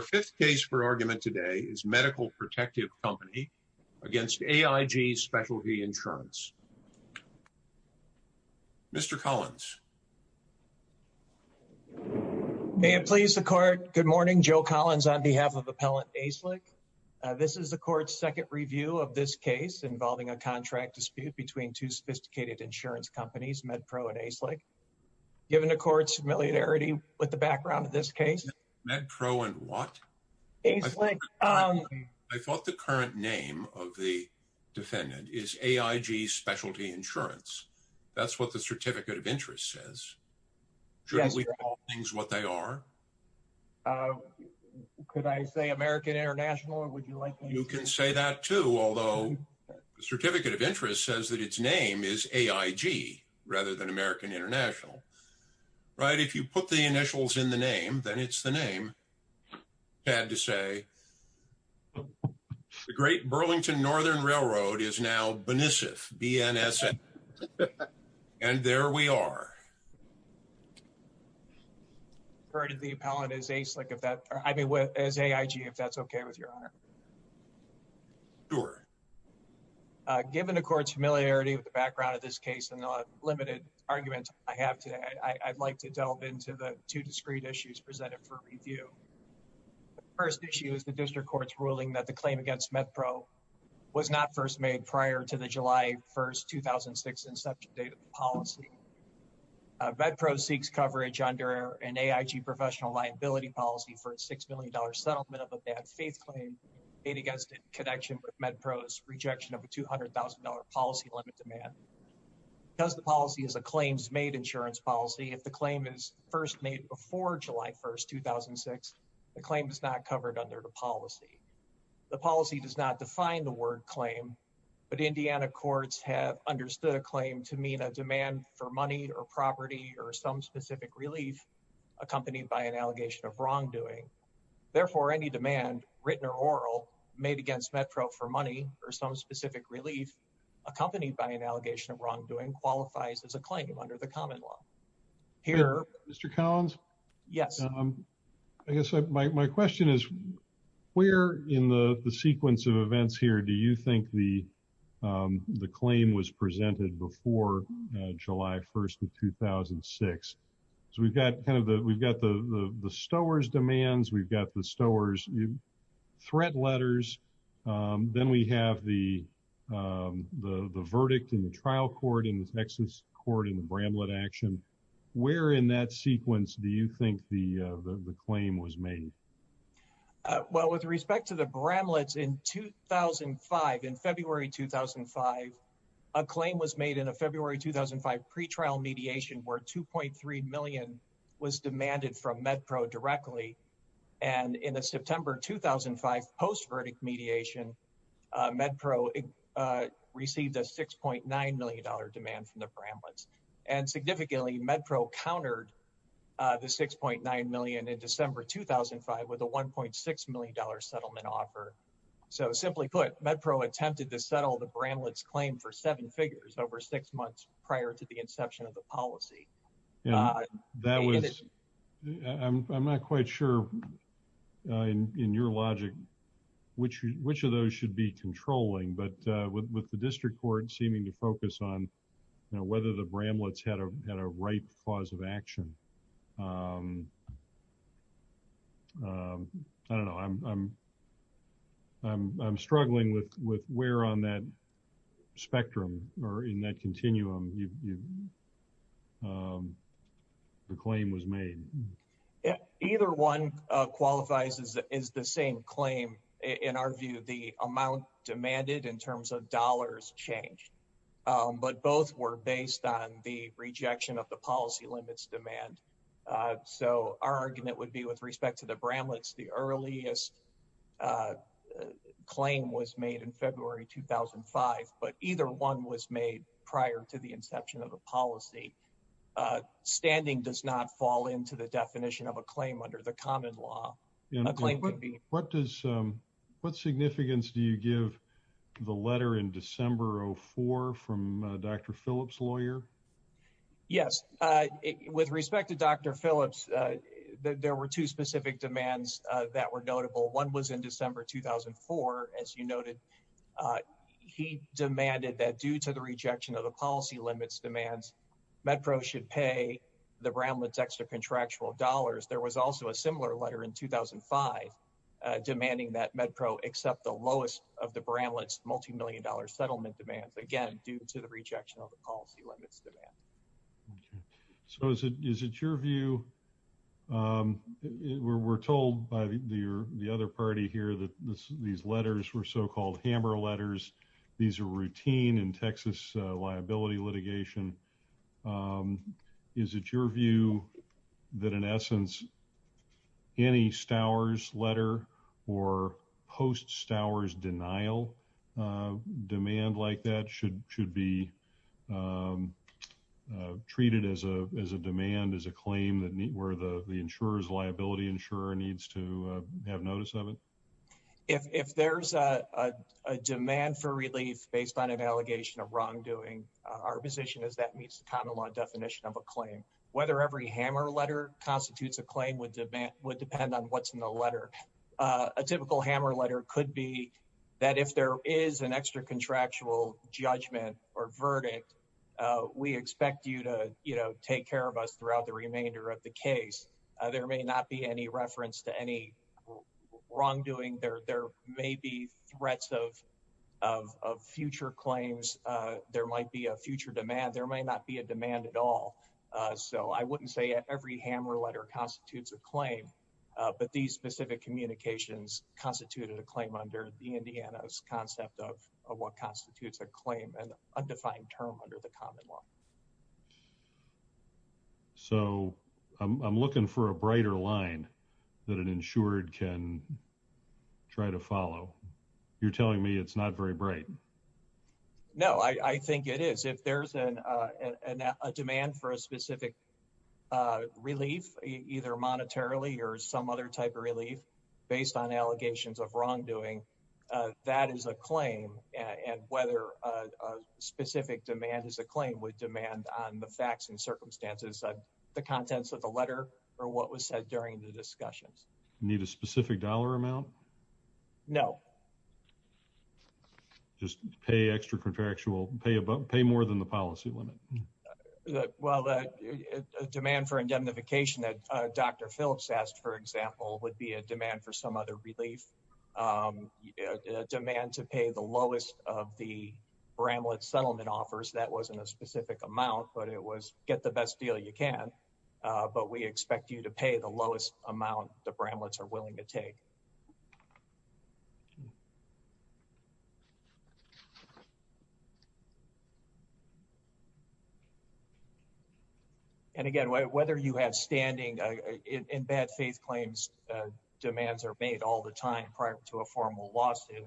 Our fifth case for argument today is Medical Protective Company against AIG Specialty Insurance. Mr. Collins. May it please the court, good morning, Joe Collins on behalf of Appellant Aislik. This is the court's second review of this case involving a contract dispute between two sophisticated insurance companies, MedPro and Aislik. Given the court's familiarity with the background of this case. MedPro and what? Aislik. I thought the current name of the defendant is AIG Specialty Insurance. That's what the certificate of interest says. Shouldn't we call things what they are? Could I say American International or would you like me to? You can say that too, although the certificate of interest says that its name is AIG rather than American International. Right. If you put the initials in the name, then it's the name, sad to say. The Great Burlington Northern Railroad is now BNSF, B-N-S-F. And there we are. I refer to the appellant as Aislik if that, I mean, as AIG, if that's okay with your honor. Sure. Given the court's familiarity with the background of this case and the limited argument I have today, I'd like to delve into the two discrete issues presented for review. First issue is the district court's ruling that the claim against MedPro was not first made prior to the July 1st, 2006 inception date of the policy. MedPro seeks coverage under an AIG professional liability policy for a $6 million settlement of a bad faith claim made against in connection with MedPro's rejection of a $200,000 policy limit demand. Because the policy is a claims made insurance policy, if the claim is first made before July 1st, 2006, the claim is not covered under the policy. The policy does not define the word claim, but Indiana courts have understood a claim to mean a demand for money or property or some specific relief accompanied by an allegation of wrongdoing. Therefore, any demand written or oral made against MedPro for money or some specific relief accompanied by an allegation of wrongdoing qualifies as a claim under the common law. Here- Mr. Collins? Yes. I guess my question is, where in the sequence of events here do you think the claim was presented before July 1st of 2006? So we've got kind of the, we've got the Stowers demands, we've got the Stowers threat letters. Then we have the verdict in the trial court in the Texas court in the Bramlett action. Where in that sequence do you think the claim was made? Well, with respect to the Bramlett's in 2005, in February, 2005, a claim was made in a February 2005 pretrial mediation where 2.3 million was demanded from MedPro directly. And in the September, 2005 post verdict mediation, MedPro received a $6.9 million demand from the Bramlett's. And significantly MedPro countered the 6.9 million in December, 2005 with a $1.6 million settlement offer. So simply put, MedPro attempted to settle the Bramlett's claim for seven figures over six months prior to the inception of the policy. That was, I'm not quite sure in your logic, which, which of those should be controlling, but with the district court seeming to focus on, you know, whether the Bramlett's had a right cause of action, I don't know, I'm, I'm, I'm struggling with, with where on that continuum, the claim was made. Either one qualifies as the same claim. In our view, the amount demanded in terms of dollars changed, but both were based on the rejection of the policy limits demand. So our argument would be with respect to the Bramlett's, the earliest claim was made in prior to the inception of the policy. Standing does not fall into the definition of a claim under the common law, a claim would be. What does, what significance do you give the letter in December of four from Dr. Phillips lawyer? Yes. With respect to Dr. Phillips, there were two specific demands that were notable. One was in December, 2004, as you noted, he demanded that due to the rejection of the policy limits demands, MedPro should pay the Bramlett's extra contractual dollars. There was also a similar letter in 2005, demanding that MedPro accept the lowest of the Bramlett's multimillion dollar settlement demands, again, due to the rejection of the policy limits demand. Okay. So is it, is it your view, we're, we're told by the other party here that this, these letters were so-called hammer letters. These are routine in Texas liability litigation. Is it your view that in essence, any Stowers letter or post Stowers denial demand like that should, should be treated as a, as a demand, as a claim that where the insurer's liability insurer needs to have notice of it? If, if there's a, a demand for relief based on an allegation of wrongdoing, our position is that meets the common law definition of a claim. Whether every hammer letter constitutes a claim would demand, would depend on what's in the letter. A typical hammer letter could be that if there is an extra contractual judgment or verdict, we expect you to, you know, take care of us throughout the remainder of the case. There may not be any reference to any wrongdoing there. There may be threats of, of, of future claims. There might be a future demand. There may not be a demand at all. So I wouldn't say every hammer letter constitutes a claim, but these specific communications constituted a claim under the Indiana's concept of what constitutes a claim and undefined term under the common law. So I'm looking for a brighter line that an insured can try to follow. You're telling me it's not very bright. No, I think it is. If there's an, a demand for a specific relief, either monetarily or some other type of relief based on allegations of wrongdoing, that is a claim. And whether a specific demand is a claim would demand on the facts and circumstances of the contents of the letter or what was said during the discussions. Need a specific dollar amount? No. Just pay extra contractual pay, but pay more than the policy limit. Well, the demand for indemnification that Dr. Phillips asked, for example, would be a demand for some other relief, a demand to pay the lowest of the Bramlett settlement offers. That wasn't a specific amount, but it was get the best deal you can. But we expect you to pay the lowest amount the Bramlett's are willing to take. And again, whether you have standing in bad faith claims, demands are made all the time prior to a formal lawsuit,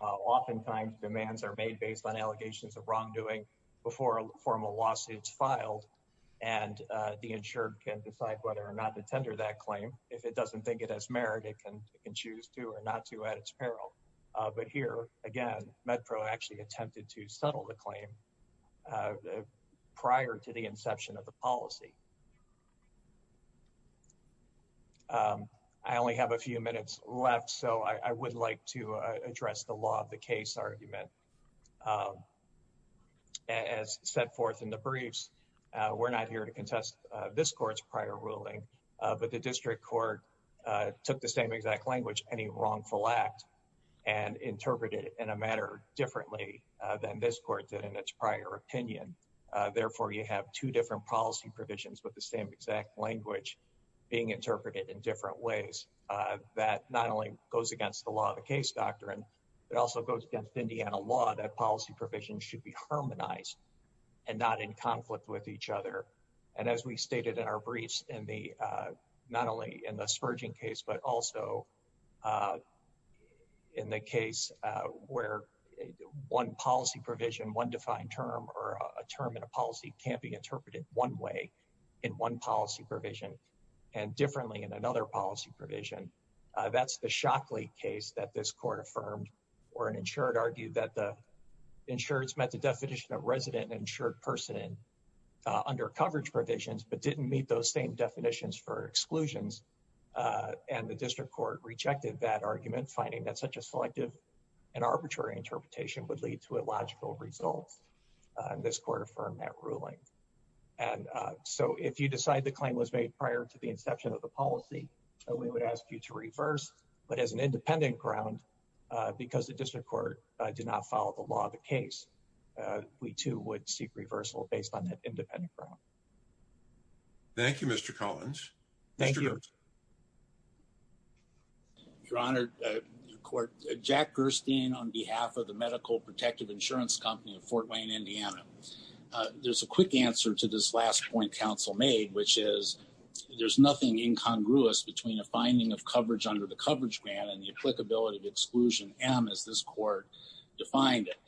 oftentimes demands are made based on allegations of wrongdoing before a formal lawsuit is filed. And the insured can decide whether or not to tender that claim. If it doesn't think it has merit, it can choose to or not to at its peril. But here, again, MedPro actually attempted to settle the claim prior to the inception of the policy. I only have a few minutes left, so I would like to address the law of the case argument. As set forth in the briefs, we're not here to contest this court's prior ruling, but the district court took the same exact language, any wrongful act, and interpreted it in a manner differently than this court did in its prior opinion. Therefore, you have two different policy provisions with the same exact language being interpreted in different ways. That not only goes against the law of the case doctrine, it also goes against Indiana law that policy provisions should be harmonized and not in conflict with each other. And as we stated in our briefs, not only in the Spurgeon case, but also in the case where one policy provision, one defined term, or a term in a policy can't be interpreted one way in one policy provision and differently in another policy provision. That's the Shockley case that this court affirmed, where an insured argued that the insured's had the definition of resident and insured person under coverage provisions, but didn't meet those same definitions for exclusions. And the district court rejected that argument, finding that such a selective and arbitrary interpretation would lead to illogical results. This court affirmed that ruling. And so if you decide the claim was made prior to the inception of the policy, we would ask you to reverse, but as an independent ground, because the district court did not follow the law of the case, we, too, would seek reversal based on that independent ground. Thank you, Mr. Collins. Thank you. Your Honor, your court, Jack Gerstein on behalf of the Medical Protective Insurance Company of Fort Wayne, Indiana. There's a quick answer to this last point counsel made, which is there's nothing incongruous between a finding of coverage under the coverage grant and the applicability of exclusion M as this court defined it.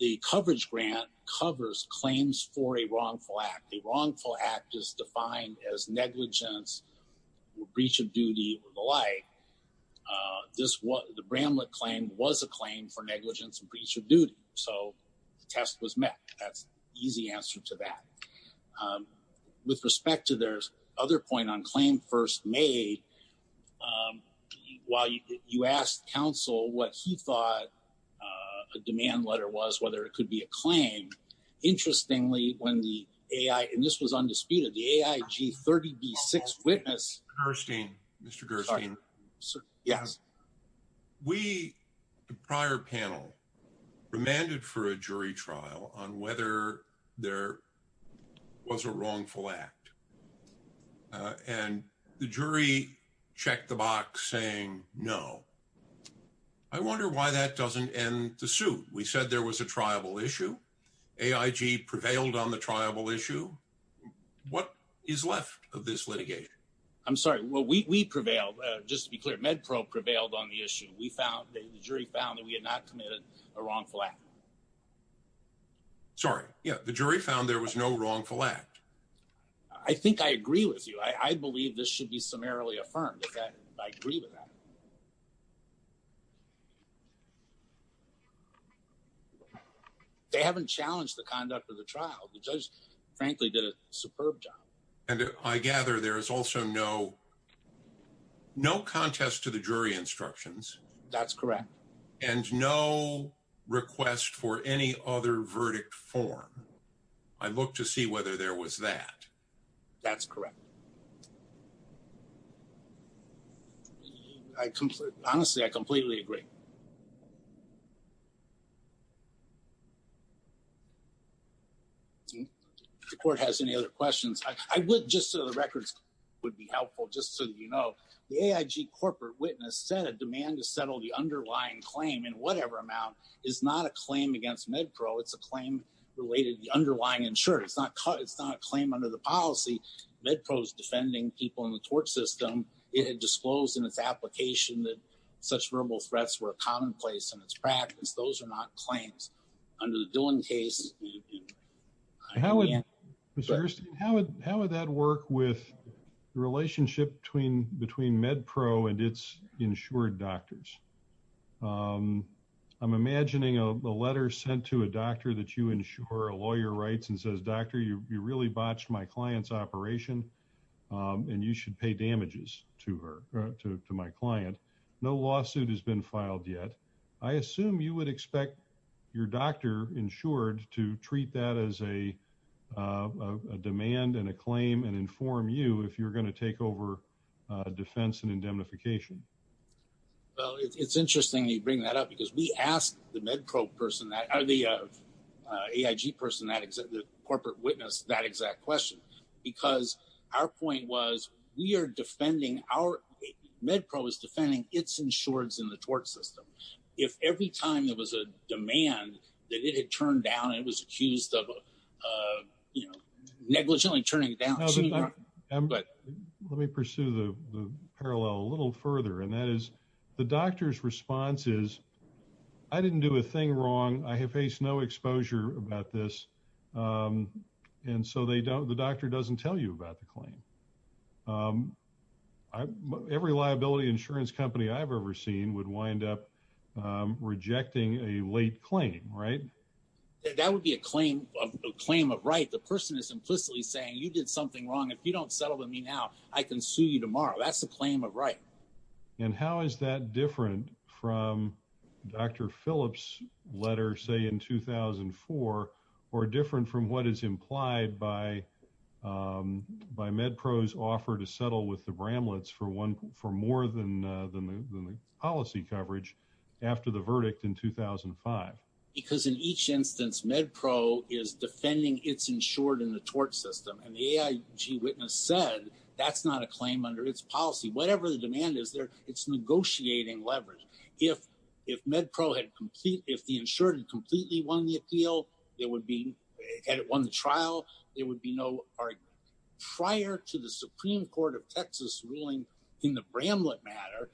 The coverage grant covers claims for a wrongful act. The wrongful act is defined as negligence, breach of duty, or the like. The Bramlett claim was a claim for negligence and breach of duty, so the test was met. That's the easy answer to that. With respect to their other point on claim first made, while you asked counsel what he thought a demand letter was, whether it could be a claim, interestingly, when the AI, and this was undisputed, the AIG 30B-6 witness. Mr. Gerstein. Mr. Gerstein. Sorry. Yes. We, the prior panel, remanded for a jury trial on whether there was a wrongful act, and the jury checked the box saying no. I wonder why that doesn't end the suit. We said there was a triable issue, AIG prevailed on the triable issue. What is left of this litigation? I'm sorry. Well, we prevailed. Just to be clear, MedPro prevailed on the issue. We found, the jury found that we had not committed a wrongful act. Sorry. Yeah. The jury found there was no wrongful act. I think I agree with you. I believe this should be summarily affirmed. I agree with that. They haven't challenged the conduct of the trial. The judge, frankly, did a superb job. And I gather there is also no, no contest to the jury instructions. That's correct. And no request for any other verdict form. I look to see whether there was that. That's correct. I completely, honestly, I completely agree. The court has any other questions? I would, just so the records would be helpful, just so that you know, the AIG corporate witness said a demand to settle the underlying claim in whatever amount is not a claim against MedPro. It's a claim related to the underlying insurer. It's not a claim under the policy. MedPro's defending people in the tort system, it disclosed in its application that such verbal threats were commonplace in its practice. Those are not claims under the Dillon case. How would that work with the relationship between MedPro and its insured doctors? I'm imagining a letter sent to a doctor that you insure a lawyer rights and says, doctor, you really botched my client's operation and you should pay damages to her, to my client. No lawsuit has been filed yet. I assume you would expect your doctor insured to treat that as a demand and a claim and inform you if you're going to take over defense and indemnification. Well, it's interesting you bring that up because we asked the MedPro person, the AIG person, the corporate witness, that exact question, because our point was we are defending our MedPro is defending its insureds in the tort system. If every time there was a demand that it had turned down, it was accused of negligently turning it down. Let me pursue the parallel a little further. And that is the doctor's response is, I didn't do a thing wrong. I have faced no exposure about this. And so the doctor doesn't tell you about the claim. Every liability insurance company I've ever seen would wind up rejecting a late claim, right? That would be a claim of right. The person is implicitly saying you did something wrong. If you don't settle with me now, I can sue you tomorrow. That's the claim of right. And how is that different from Dr. Phillips' letter, say, in 2004 or different from what is implied by MedPro's offer to for more than the policy coverage after the verdict in 2005? Because in each instance, MedPro is defending its insured in the tort system. And the AIG witness said that's not a claim under its policy. Whatever the demand is there, it's negotiating leverage. If MedPro had complete, if the insured had completely won the appeal, it would be, had it won the trial, there would be no argument. Prior to the Supreme Court of Texas ruling in the Bramlett matter,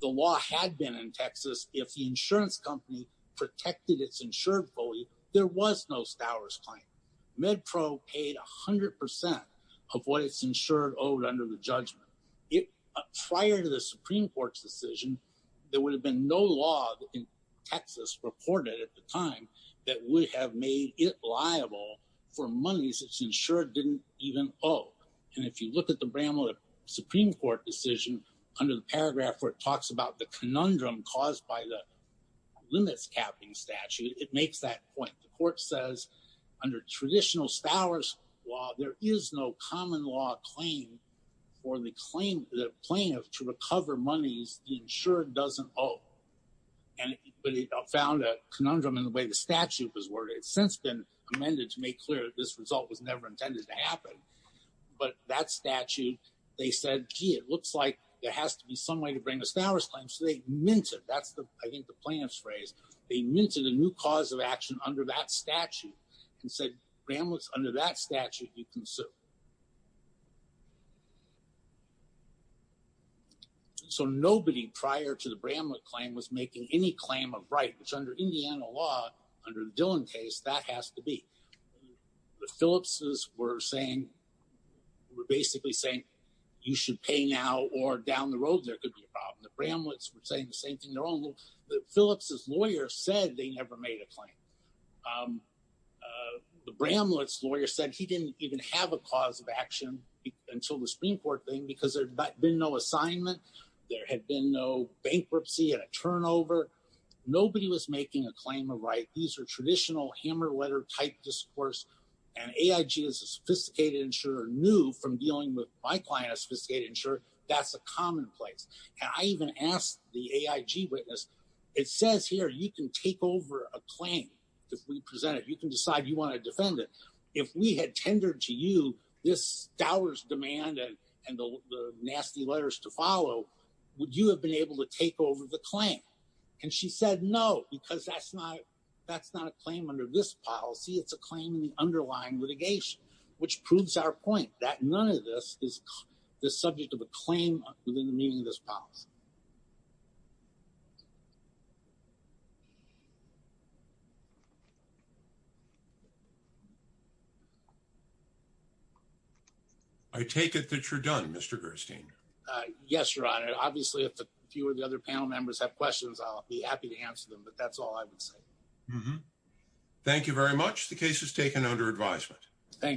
the law had been in Texas. If the insurance company protected its insured fully, there was no Stowers claim. MedPro paid 100 percent of what its insured owed under the judgment. Prior to the Supreme Court's decision, there would have been no law in Texas reported at the time that would have made it liable for monies its insured didn't even owe. And if you look at the Bramlett Supreme Court decision under the paragraph where it talks about the conundrum caused by the limits capping statute, it makes that point. The court says under traditional Stowers law, there is no common law claim for the claim, the plaintiff to recover monies the insured doesn't owe. And, but it found a conundrum in the way the statute was worded. It's since been amended to make clear that this result was never intended to happen. But that statute, they said, gee, it looks like there has to be some way to bring the Stowers claim. So they minted, that's the, I think the plaintiff's phrase, they minted a new cause of action under that statute and said, so nobody prior to the Bramlett claim was making any claim of right, which under Indiana law, under the Dillon case, that has to be the Phillips's were saying, were basically saying, you should pay now or down the road, there could be a problem. The Bramlett's were saying the same thing. They're all the Phillips's lawyer said they never made a claim. The Bramlett's lawyer said he didn't even have a claim. Action until the Supreme court thing, because there had been no assignment. There had been no bankruptcy and a turnover. Nobody was making a claim of right. These are traditional hammer letter type discourse. And AIG is a sophisticated insurer new from dealing with my client, a sophisticated insurer. That's a commonplace. And I even asked the AIG witness, it says here, you can take over a claim. If we present it, you can decide you want to defend it. If we had tendered to you this dower's demand and the nasty letters to follow, would you have been able to take over the claim? And she said, no, because that's not a claim under this policy. It's a claim in the underlying litigation, which proves our point that none of this is the subject of a claim within the meaning of this policy. I take it that you're done, Mr. Gerstein. Yes, Your Honor. And obviously, if a few of the other panel members have questions, I'll be happy to answer them. But that's all I would say. Thank you very much. The case is taken under advisement. Thank you.